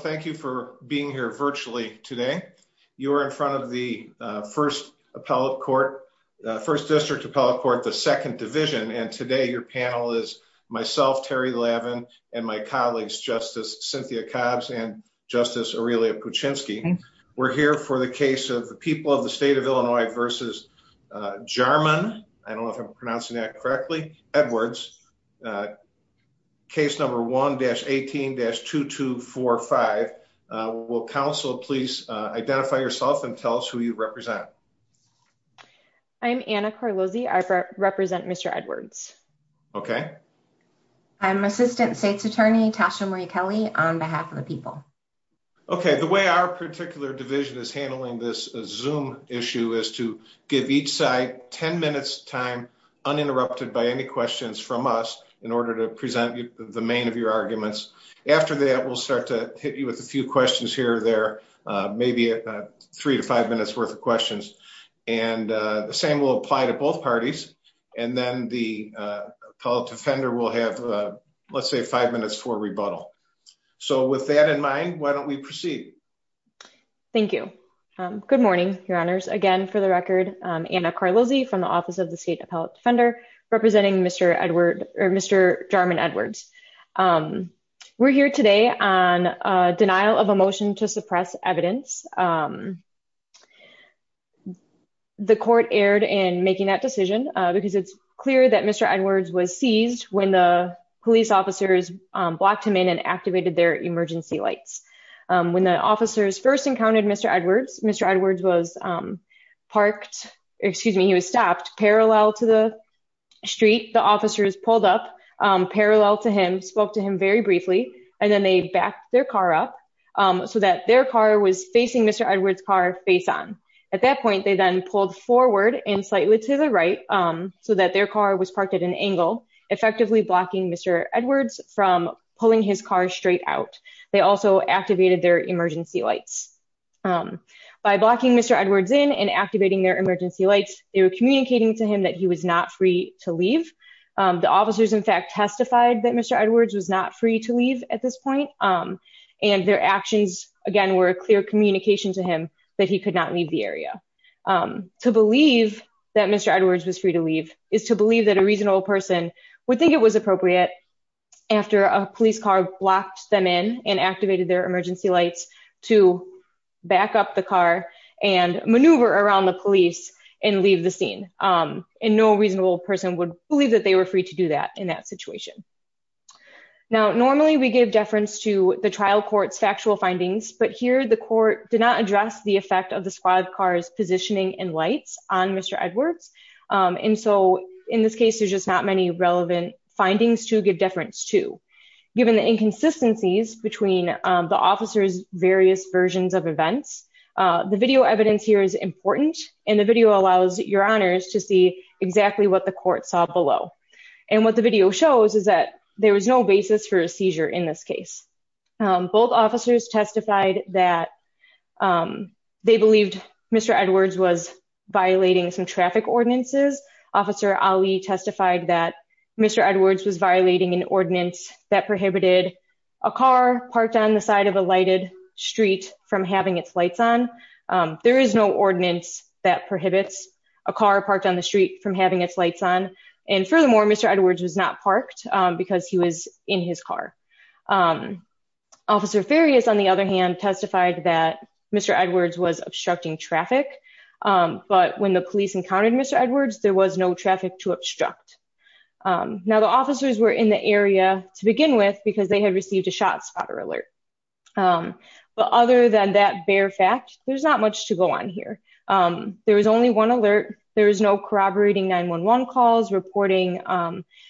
Thank you for being here virtually today. You're in front of the First District Appellate Court, the Second Division, and today your panel is myself, Terry Lavin, and my colleagues, Justice Cynthia Cobbs and Justice Aurelia Puchinski. We're here for the case of the people of the state of Illinois versus Jarman, I don't know if I'm pronouncing that correctly, Edwards, case number 1-18-2245. Will counsel please identify yourself and tell us who you represent? I'm Anna Carlozzi, I represent Mr. Edwards. Okay. I'm Assistant State's Attorney Tasha Marie Kelly on behalf of the people. Okay, the way our particular division is handling this issue is to give each side 10 minutes time uninterrupted by any questions from us in order to present the main of your arguments. After that we'll start to hit you with a few questions here or there, maybe three to five minutes worth of questions, and the same will apply to both parties and then the appellate defender will have let's say five minutes for rebuttal. So with that in mind, why don't we proceed? Thank you. Good morning, your honors. Again, for the record, Anna Carlozzi from the Office of the State Appellate Defender, representing Mr. Jarman Edwards. We're here today on a denial of a motion to suppress evidence. The court erred in making that decision because it's clear that Mr. Edwards was seized when the their emergency lights. When the officers first encountered Mr. Edwards, Mr. Edwards was parked, excuse me, he was stopped parallel to the street. The officers pulled up parallel to him, spoke to him very briefly, and then they backed their car up so that their car was facing Mr. Edwards' car face on. At that point, they then pulled forward and slightly to the right so that their car was parked at an angle, effectively blocking Mr. Edwards from pulling his car straight out. They also activated their emergency lights. By blocking Mr. Edwards in and activating their emergency lights, they were communicating to him that he was not free to leave. The officers, in fact, testified that Mr. Edwards was not free to leave at this point, and their actions, again, were a clear communication to him that he could not leave the area. To believe that Mr. Edwards was free to leave is to believe that a reasonable person would think it was appropriate after a police car blocked them in and activated their emergency lights to back up the car and maneuver around the police and leave the scene. And no reasonable person would believe that they were free to do that in that situation. Now, normally we give deference to the trial court's factual findings, but here the court did not address the effect of the squad car's positioning and lights on Mr. Edwards. And so in this case, there's just not many relevant findings to give deference to. Given the inconsistencies between the officers' various versions of events, the video evidence here is important, and the video allows your honors to see exactly what the court saw below. And what the video shows is that there was no basis for a seizure in this case. Both officers testified that they believed Mr. Edwards was violating some traffic ordinances. Officer Ali testified that Mr. Edwards was violating an ordinance that prohibited a car parked on the side of a lighted street from having its lights on. There is no ordinance that prohibits a car parked on the street from having its lights on. And furthermore, Mr. Edwards was not parked because he was in his car. Officer Farias on the other hand testified that Mr. Edwards was obstructing traffic, but when the police encountered Mr. Edwards, there was no traffic to obstruct. Now, the officers were in the area to begin with because they had received a shot spotter alert. But other than that bare fact, there's not much to go on There was only one alert. There was no corroborating 911 calls, reporting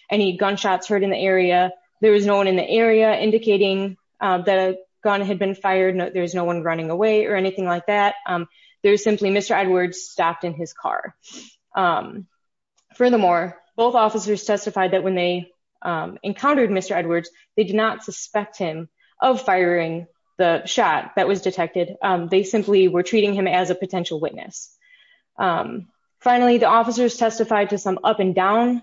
any gunshots heard in the area. There was no one in the area indicating that a gun had been fired. There's no one running away or anything like that. There's simply Mr. Edwards stopped in his car. Furthermore, both officers testified that when they encountered Mr. Edwards, they did not suspect him of firing the shot that was detected. They simply were treating him as a potential witness. Finally, the officers testified to some up and down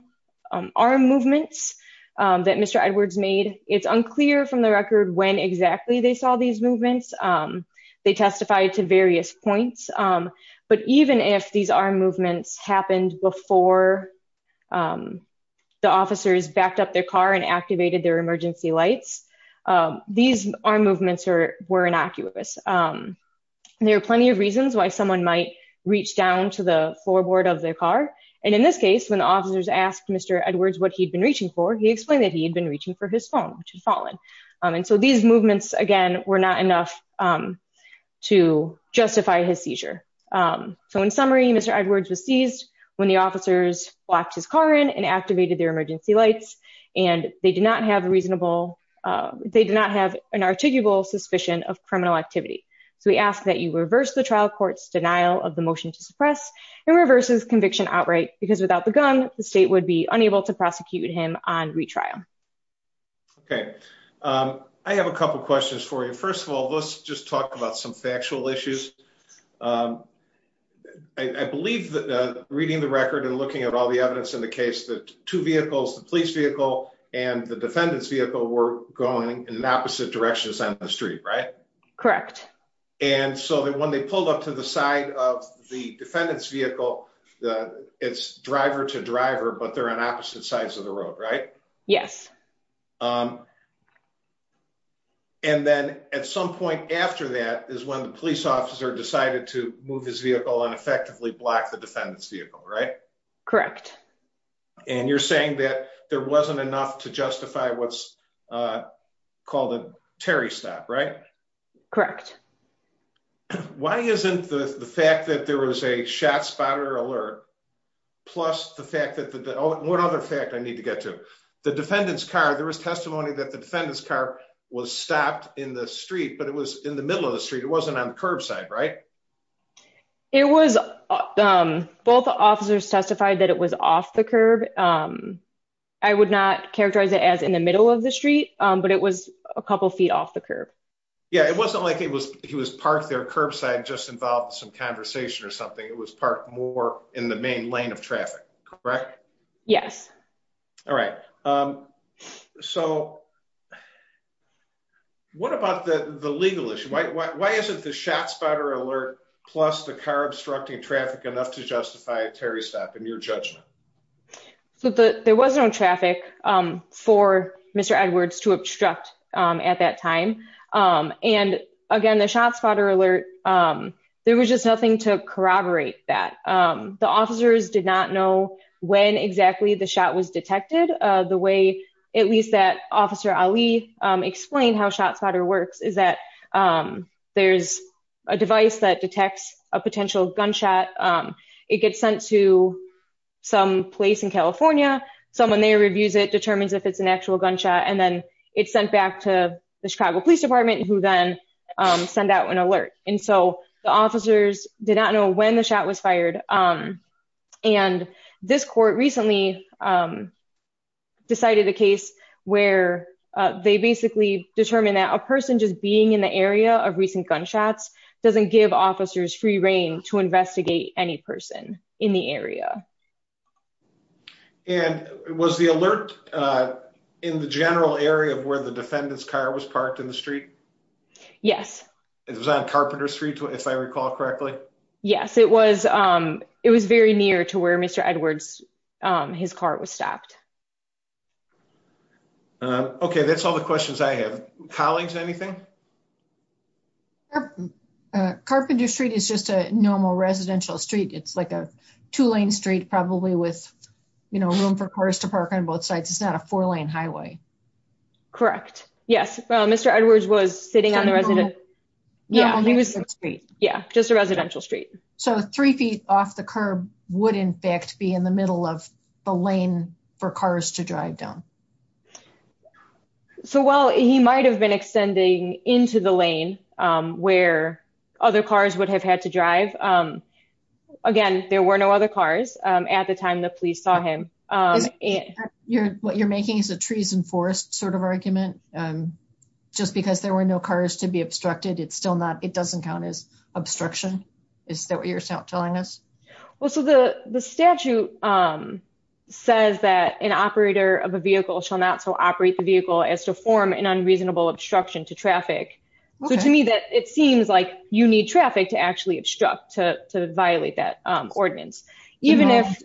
arm movements that Mr. Edwards made. It's unclear from the record when exactly they saw these movements. They testified to various points. But even if these arm movements happened before the officers backed up their car and activated their emergency lights, these arm movements were innocuous. There are plenty of reasons why someone might reach down to the floorboard of their car. And in this case, when the officers asked Mr. Edwards what he'd been reaching for, he explained that he had been reaching for his phone, which had fallen. And so these movements, again, were not enough to justify his seizure. So in summary, Mr. Edwards was seized when the officers locked his car in and activated their emergency lights. And they did not have a reasonable, they did not have an articulable suspicion of criminal activity. So we ask that you reverse the trial court's denial of the motion to suppress and reverse his conviction outright, because without the gun, the state would be unable to prosecute him on retrial. Okay, I have a couple questions for you. First of all, let's just talk about some factual issues. I believe that reading the record and looking at all the evidence in the case that two vehicles, the police vehicle and the defendant's vehicle were going in opposite directions on the street, right? Correct. And so that when they pulled up to the side of the defendant's vehicle, it's driver to driver, but they're on opposite sides of the road, right? Yes. And then at some point after that is when the police officer decided to move his vehicle and block the defendant's vehicle, right? Correct. And you're saying that there wasn't enough to justify what's called a Terry stop, right? Correct. Why isn't the fact that there was a shot spotter alert, plus the fact that the one other fact I need to get to the defendant's car, there was testimony that the defendant's car was stopped in the street, but it was in the middle of the street. It wasn't on the curbside, right? It was. Both officers testified that it was off the curb. I would not characterize it as in the middle of the street, but it was a couple feet off the curb. Yeah, it wasn't like he was he was parked there curbside just involved some conversation or something. It was parked more in the main lane of traffic, correct? Yes. All right. So what about the legal issue? Why isn't the shot spotter alert plus the car obstructing traffic enough to justify a Terry stop in your judgment? So there was no traffic for Mr. Edwards to obstruct at that time. And again, the shot spotter alert, there was just nothing to corroborate that. The officers did not know when exactly the shot was detected. The way at least that Officer Ali explained how shot spotter works is that there's a device that detects a potential gunshot. It gets sent to some place in California, someone there reviews it determines if it's an actual gunshot and then it's sent back to the Chicago Police Department who then send out an the officers did not know when the shot was fired. And this court recently decided a case where they basically determined that a person just being in the area of recent gunshots doesn't give officers free reign to investigate any person in the area. And was the alert in the general area of where the defendant's car was parked in the street? Yes. It was on Carpenter Street, if I recall correctly. Yes, it was. It was very near to where Mr. Edwards, his car was stopped. Okay, that's all the questions I have. Colleagues, anything? Carpenter Street is just a normal residential street. It's like a two lane street probably with room for cars to park on both sides. It's not a four lane highway. Correct. Yes, Mr. Edwards was sitting on the residential street. Yeah, just a residential street. So three feet off the curb would in fact be in the middle of the lane for cars to drive down. So while he might have been extending into the lane where other cars would have had to drive. Again, there were no other cars at the time the police saw him. Is that what you're making is a trees and forest sort of argument? Just because there were no cars to be obstructed, it doesn't count as obstruction? Is that what you're telling us? Well, so the statute says that an operator of a vehicle shall not so operate the vehicle as to form an unreasonable obstruction to traffic. So to me, it seems like you need traffic to actually obstruct to violate that ordinance. Even if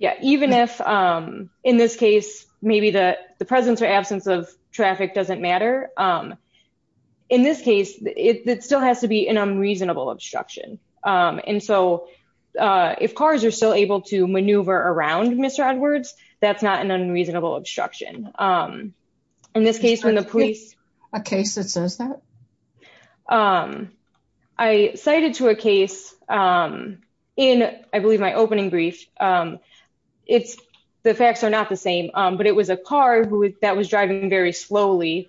in this case, maybe the presence or absence of traffic doesn't matter. In this case, it still has to be an unreasonable obstruction. And so if cars are still able to maneuver around Mr. Edwards, that's not an unreasonable obstruction. Um, in this case, when the police a case that says that I cited to a case, in I believe my opening brief, it's the facts are not the same. But it was a car that was driving very slowly,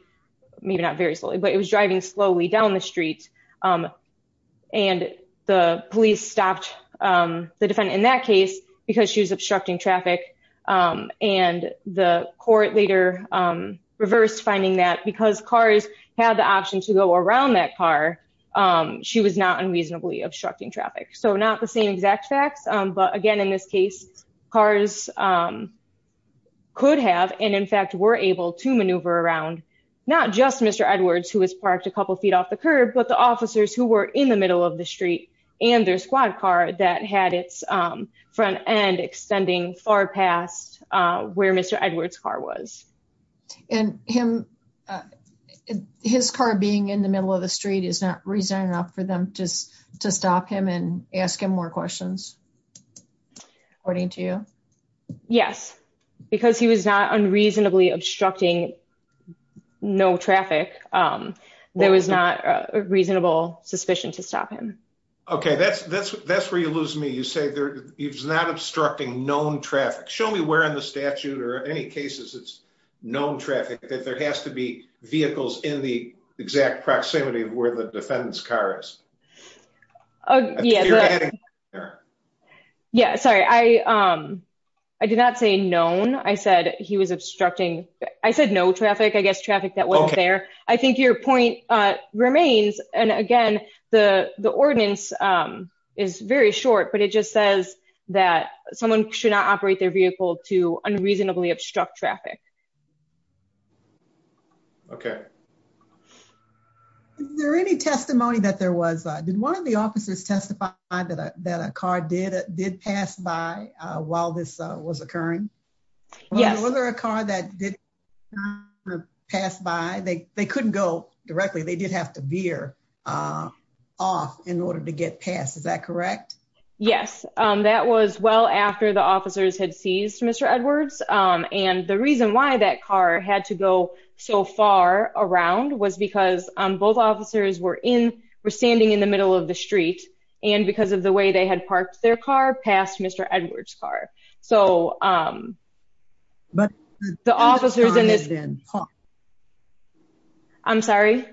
maybe not very slowly, but it was driving slowly down the street. And the police stopped the defendant in that case, because she was obstructing traffic. And the court later reversed finding that because cars have the option to go around that car, she was not unreasonably obstructing traffic. So not the same exact facts. But again, in this case, cars could have and in fact, were able to maneuver around, not just Mr. Edwards, who was parked a couple feet off the curb, but the officers who were in the middle of the street, and their squad car that had its front end extending far past where Mr. Edwards car was. And him. His car being in the middle of the street is not reason enough for them just to stop him and ask him more questions. According to you? Yes, because he was not unreasonably obstructing. No traffic. There was not a reasonable suspicion to stop him. Okay, that's that's that's where you lose me. You say there is not obstructing known traffic. Show me where in the statute or any cases it's known traffic that there has to be vehicles in the exact proximity of where the defendant's car is. Oh, yeah. Yeah, sorry. I, um, I did not say known. I said he was obstructing. I said no I guess traffic that was there. I think your point remains. And again, the ordinance is very short, but it just says that someone should not operate their vehicle to unreasonably obstruct traffic. Okay. Is there any testimony that there was did one of the officers testified that a car did pass by while this was occurring? Yes. Was there a car that did pass by? They couldn't go directly. They did have to veer off in order to get past. Is that correct? Yes, that was well after the officers had seized Mr. Edwards. And the reason why that car had to go so far around was because both officers were in were standing in the middle of the street. And because of the way they had parked their car past Mr. Edwards car. So, um, but the officers and I'm sorry.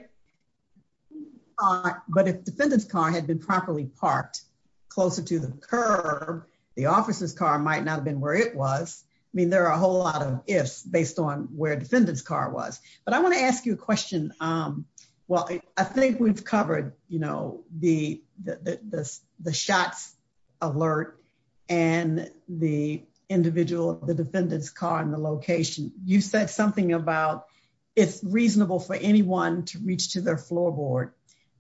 But if defendant's car had been properly parked closer to the curb, the officer's car might not have been where it was. I mean, there are a whole lot of ifs based on where defendant's car was, but I want to ask you a question. Um, well, I think we've covered, you know, the, the, the, the, the shots alert and the individual, the defendant's car and the location. You said something about it's reasonable for anyone to reach to their floorboard.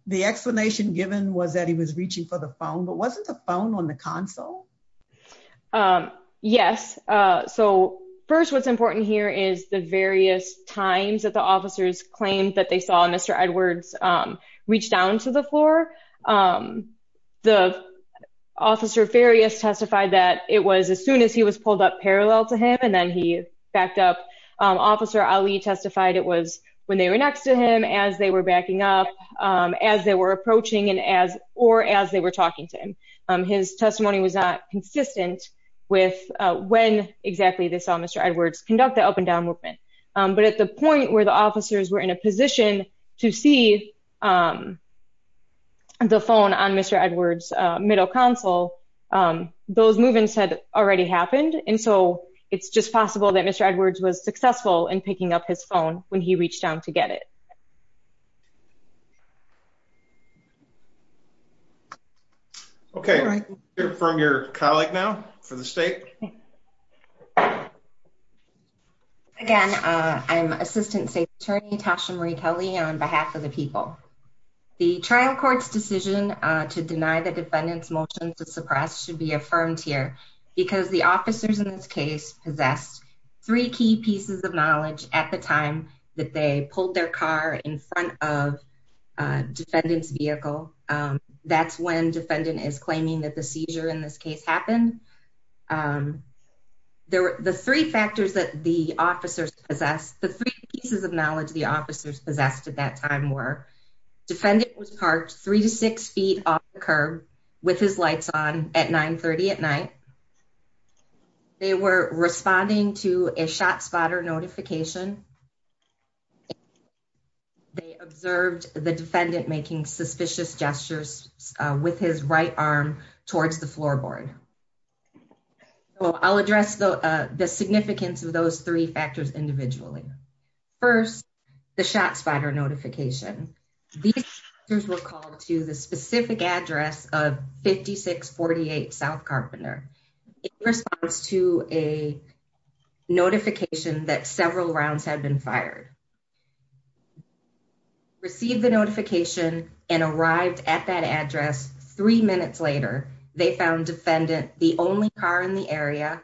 The explanation given was that he was reaching for the phone, but wasn't the phone on the console. Um, yes. Uh, so first, what's important here is the various times that the officers claimed that they saw Mr. Edwards, um, reach down to the floor. Um, the officer various testified that it was as soon as he was pulled up parallel to him. And then he backed up, um, officer Ali testified it was when they were next to him as they were backing up, um, as they were approaching and as, or as they were talking to him. Um, his testimony was not consistent with, uh, when exactly they saw Mr. Edwards conduct the up and down movement. Um, but at the point where the officers were in a position to see, um, the phone on Mr. Edwards, uh, middle console, um, those movements had already happened. And so it's just possible that Mr. Edwards was successful in picking up his phone when he reached out to get it. Okay. From your colleague now for the state. Again, uh, I'm assistant state attorney Tasha Marie Kelly on behalf of the people, the trial court's decision to deny the defendant's motion to suppress should be affirmed here because the officers in this case possessed three key pieces of knowledge at the time that they pulled their car in front of a defendant's vehicle. Um, that's when defendant is claiming that the seizure in this case happened. Um, there were the three factors that the officers possessed, the three pieces of knowledge, the officers possessed at that time were defendant was parked three to six feet off the curb with his lights on at nine 30 at night. Okay. They were responding to a shot spotter notification. They observed the defendant making suspicious gestures with his right arm towards the floorboard. So I'll address the significance of those three factors individually. First, the shot spotter notification. These were called to the specific address of 56 48 South Carpenter. In response to a notification that several rounds had been fired, received the notification and arrived at that address. Three minutes later, they found defendant the only car in the area.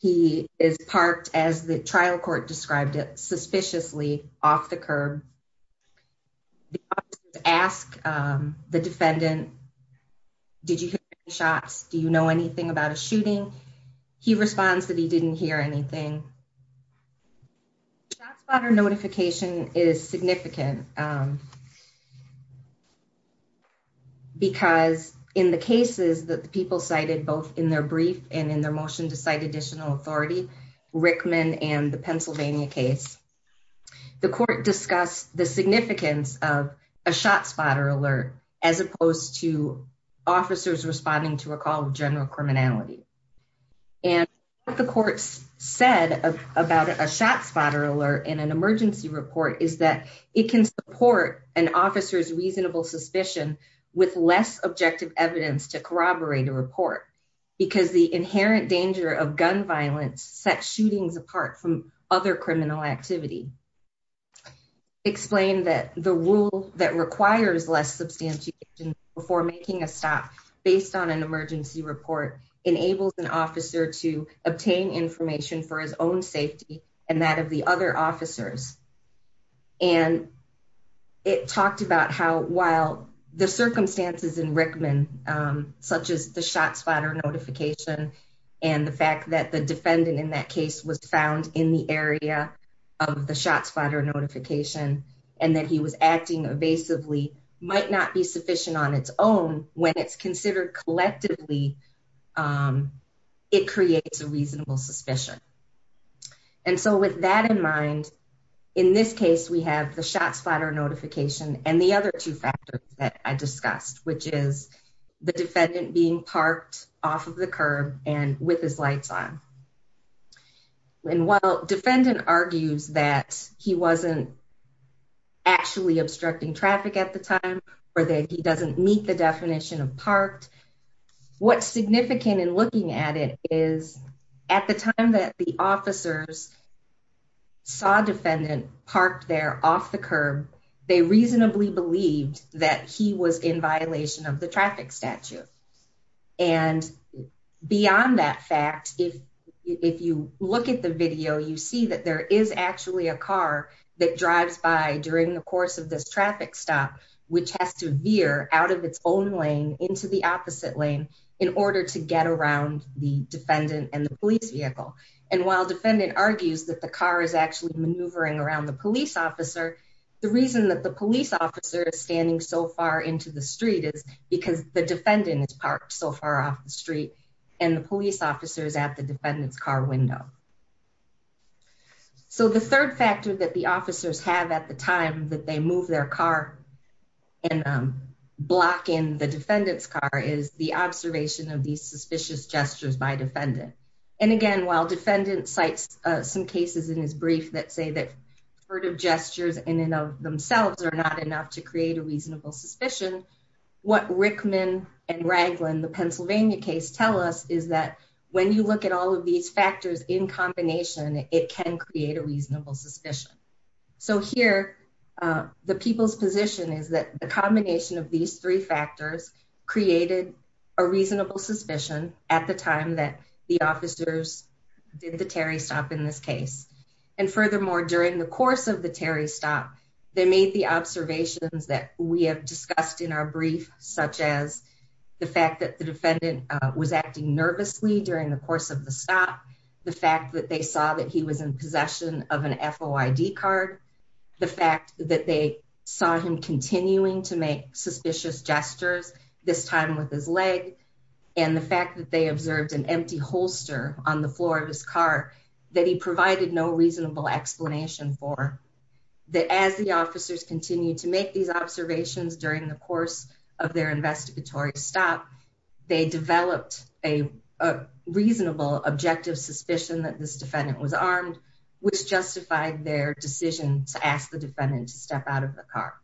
He is parked as the trial court described it suspiciously off the curb. Um, ask the defendant. Did you hear shots? Do you know anything about a shooting? He responds that he didn't hear anything. Shot spotter notification is significant, um, because in the cases that the people cited both in their brief and in their motion to Pennsylvania case, the court discussed the significance of a shot spotter alert as opposed to officers responding to a call of general criminality. And what the courts said about a shot spotter alert in an emergency report is that it can support an officer's reasonable suspicion with less objective evidence to corroborate a report because the inherent danger of gun violence set shootings apart from other criminal activity. Explain that the rule that requires less substantial before making a stop based on an emergency report enables an officer to obtain information for his own safety and that of the other officers. And it talked about how, while the circumstances in Rickman, um, such as the was found in the area of the shot spotter notification and that he was acting evasively might not be sufficient on its own when it's considered collectively, um, it creates a reasonable suspicion. And so with that in mind, in this case, we have the shot spotter notification and the other two factors that I discussed, which is the defendant being parked off of the curb and with his lights on. And while defendant argues that he wasn't actually obstructing traffic at the time or that he doesn't meet the definition of parked, what's significant in looking at it is at the time that the officers saw defendant parked there off the curb, they reasonably believed that he was in and beyond that fact, if if you look at the video, you see that there is actually a car that drives by during the course of this traffic stop, which has to veer out of its own lane into the opposite lane in order to get around the defendant and the police vehicle. And while defendant argues that the car is actually maneuvering around the police officer, the reason that the police officer is standing so far into the street is because the defendant is so far off the street and the police officers at the defendant's car window. So the third factor that the officers have at the time that they move their car and, um, block in the defendant's car is the observation of these suspicious gestures by defendant. And again, while defendant sites, uh, some cases in his brief that say that heard of gestures in and of themselves are not enough to create a reasonable suspicion, what Rickman and Raglan, the Pennsylvania case, tell us is that when you look at all of these factors in combination, it can create a reasonable suspicion. So here, uh, the people's position is that the combination of these three factors created a reasonable suspicion at the time that the officers did the Terry stop in this case. And furthermore, during the course of the Terry stop, they made the observations that we have discussed in our brief, such as the fact that the defendant was acting nervously during the course of the stop, the fact that they saw that he was in possession of an F. O. I. D. Card. The fact that they saw him continuing to make suspicious gestures this time with his leg and the fact that they observed an empty holster on the floor of his car that he provided no reasonable explanation for that as the officers continue to make these observations during the course of their investigatory stop, they developed a reasonable objective suspicion that this defendant was armed, which justified their decision to ask the defendant to step out of the car.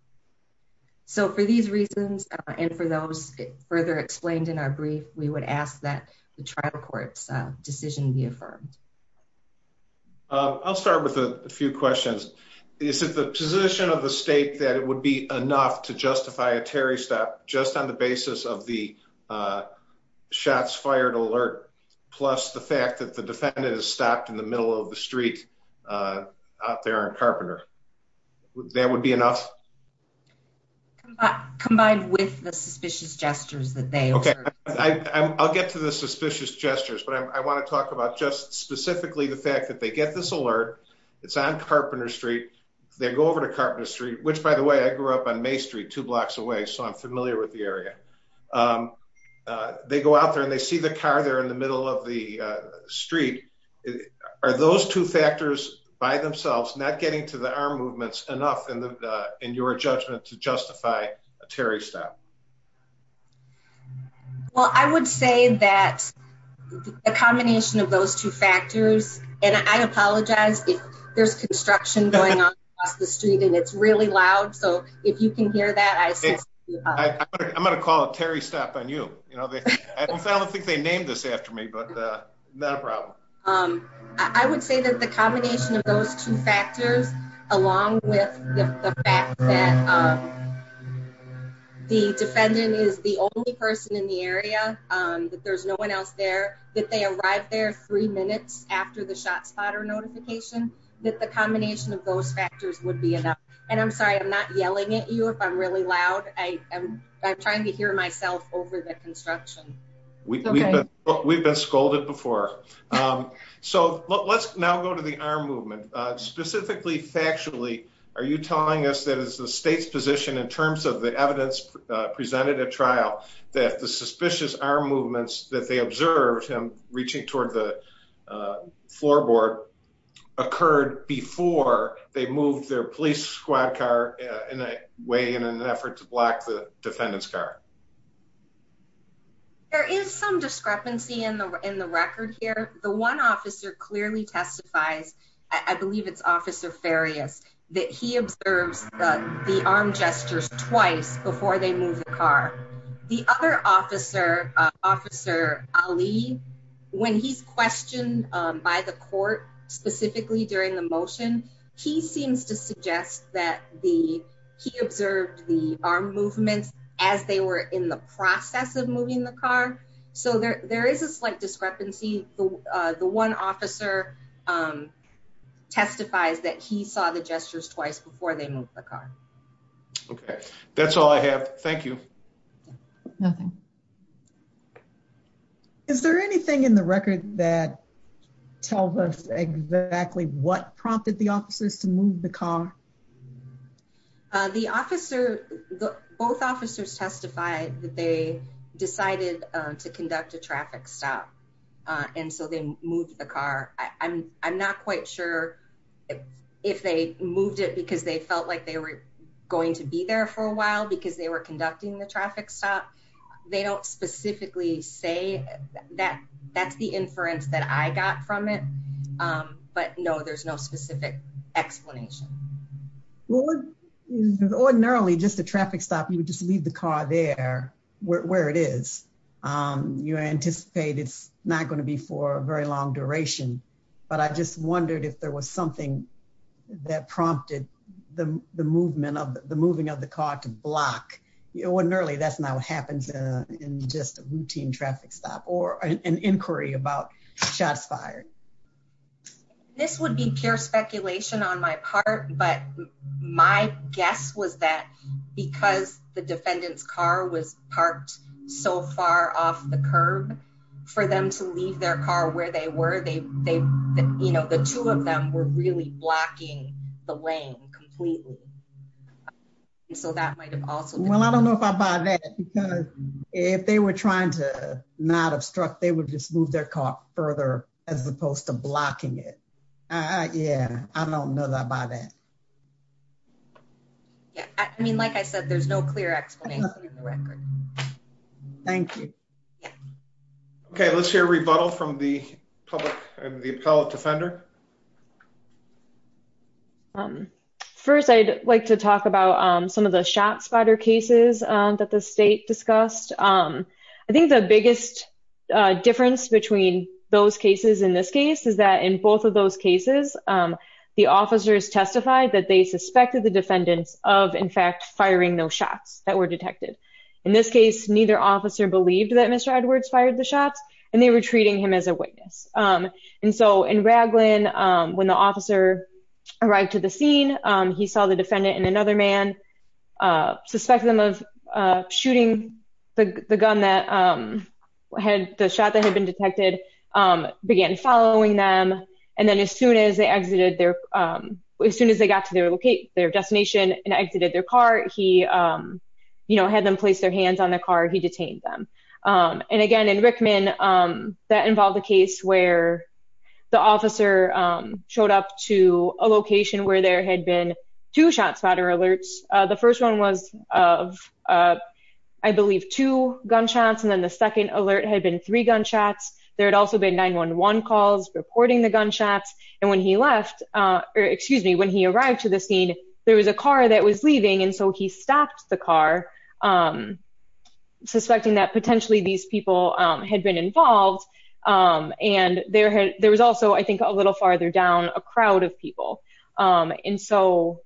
So for these reasons, and for those further explained in our briefing, I'll start with a few questions. Is it the position of the state that it would be enough to justify a Terry stop just on the basis of the, uh, shots fired alert, plus the fact that the defendant is stopped in the middle of the street, uh, out there in Carpenter? That would be enough. Combined with the suspicious gestures that they I'll get to the suspicious gestures, but I want to talk about just specifically the fact that they get this alert. It's on Carpenter Street. They go over to Carpenter Street, which, by the way, I grew up on May Street two blocks away, so I'm familiar with the area. Um, uh, they go out there and they see the car there in the middle of the street. Are those two factors by themselves not to the arm movements enough in your judgment to justify a Terry stop? Well, I would say that a combination of those two factors, and I apologize if there's construction going on across the street and it's really loud. So if you can hear that, I'm going to call it Terry stop on you. I don't think they named this after me, but not a problem. Um, I would say that combination of those two factors, along with the fact that, um, the defendant is the only person in the area, um, that there's no one else there, that they arrived there three minutes after the shot spotter notification, that the combination of those factors would be enough. And I'm sorry, I'm not yelling at you if I'm really loud. I am. I'm trying to hear myself over the construction. We've been scolded before. Um, so let's now go to the arm movement. Specifically, factually, are you telling us that it's the state's position in terms of the evidence presented at trial that the suspicious arm movements that they observed him reaching toward the floorboard occurred before they moved their police squad car in a way, in an effort to block defendant's car? There is some discrepancy in the, in the record here. The one officer clearly testifies, I believe it's officer various that he observes the arm gestures twice before they move the car. The other officer, uh, officer Ali, when he's questioned by the court specifically during the motion, he seems to suggest that the, he observed the arm movements as they were in the process of moving the car. So there, there is a slight discrepancy. The, uh, the one officer, um, testifies that he saw the gestures twice before they moved the car. Okay. That's all I have. Thank you. Nothing. Okay. Is there anything in the record that tell us exactly what prompted the officers to move the car? Uh, the officer, both officers testified that they decided to conduct a traffic stop. Uh, and so they moved the car. I'm, I'm not quite sure if they moved it because they felt like they were going to be there for a while because they were conducting the traffic stop. They don't specifically say that that's the inference that I got from it. Um, but no, there's no specific explanation. Well, ordinarily just the traffic stop, you would just leave the car there where it is. Um, you anticipate it's not going to be for a very long duration, but I just wondered if there was something that prompted the movement of the moving of the car to block. It wasn't early. That's not what happens in just a routine traffic stop or an inquiry about shots fired. This would be pure speculation on my part, but my guess was that because the defendant's car was parked so far off the curb for them to leave their car where they were, they, they, you know, the two of them were really blocking the lane completely. So that might've also, well, I don't know if I buy that because if they were trying to not obstruct, they would just move their car further as opposed to blocking it. Uh, yeah, I don't know that by that. Yeah. I mean, like I said, there's no clear explanation of the record. Thank you. Okay. Let's hear a rebuttal from the public and the appellate defender. Um, first I'd like to talk about, um, some of the shot spotter cases that the state discussed. Um, I think the biggest difference between those cases in this case is that in both of those cases, um, the officers testified that they suspected the defendants of in fact, firing those shots that were detected in this case, neither officer believed that Mr. Edwards fired the shots and they were treating him as a witness. Um, and so in Ragland, um, when the officer arrived to the scene, um, he saw the defendant and another man, uh, suspected them of, uh, shooting the gun that, um, had the shot that had been detected, um, began following them. And then as soon as they exited their, um, as soon as they got to their location, their destination and exited their car, he, um, you know, had them place their hands on them. Um, and again, in Rickman, um, that involved a case where the officer, um, showed up to a location where there had been two shot spotter alerts. Uh, the first one was of, uh, I believe two gunshots. And then the second alert had been three gunshots. There had also been 911 calls reporting the gunshots. And when he left, uh, or excuse me, when he arrived to the scene, there was a car that was leaving. And so he stopped the car, um, suspecting that potentially these people, um, had been involved. Um, and there had, there was also, I think a little farther down a crowd of people. Um, and so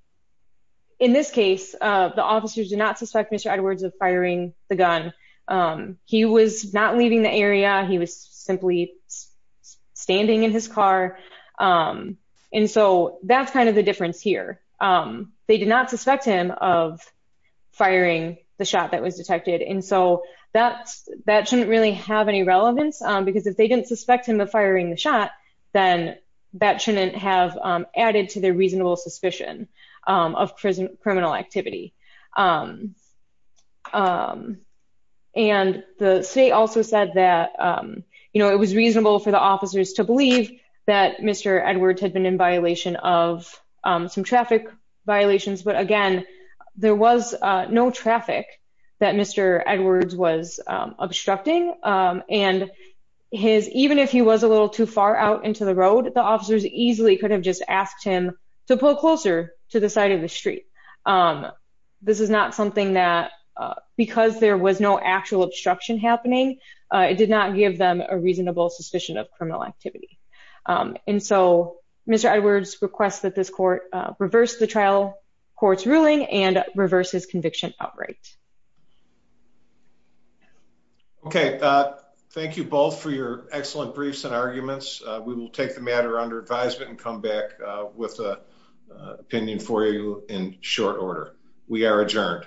in this case, uh, the officers do not suspect Mr. Edwards of firing the gun. Um, he was not leaving the area. He was simply standing in his car. Um, and so that's kind of the difference here. Um, they did not suspect him of firing the shot that was detected. And so that's, that shouldn't really have any relevance, um, because if they didn't suspect him of firing the shot, then that shouldn't have, um, added to their reasonable suspicion, um, of criminal activity. Um, um, and the state also said that, um, you that Mr. Edwards had been in violation of, um, some traffic violations, but again, there was, uh, no traffic that Mr. Edwards was, um, obstructing, um, and his, even if he was a little too far out into the road, the officers easily could have just asked him to pull closer to the side of the street. Um, this is not something that, uh, because there was no actual obstruction happening, uh, it did not give them a reasonable suspicion of criminal activity. Um, and so Mr. Edwards requests that this court, uh, reverse the trial court's ruling and reverse his conviction outright. Okay. Uh, thank you both for your excellent briefs and arguments. Uh, we will take the matter under advisement and come back with a opinion for you in short order. We are adjourned.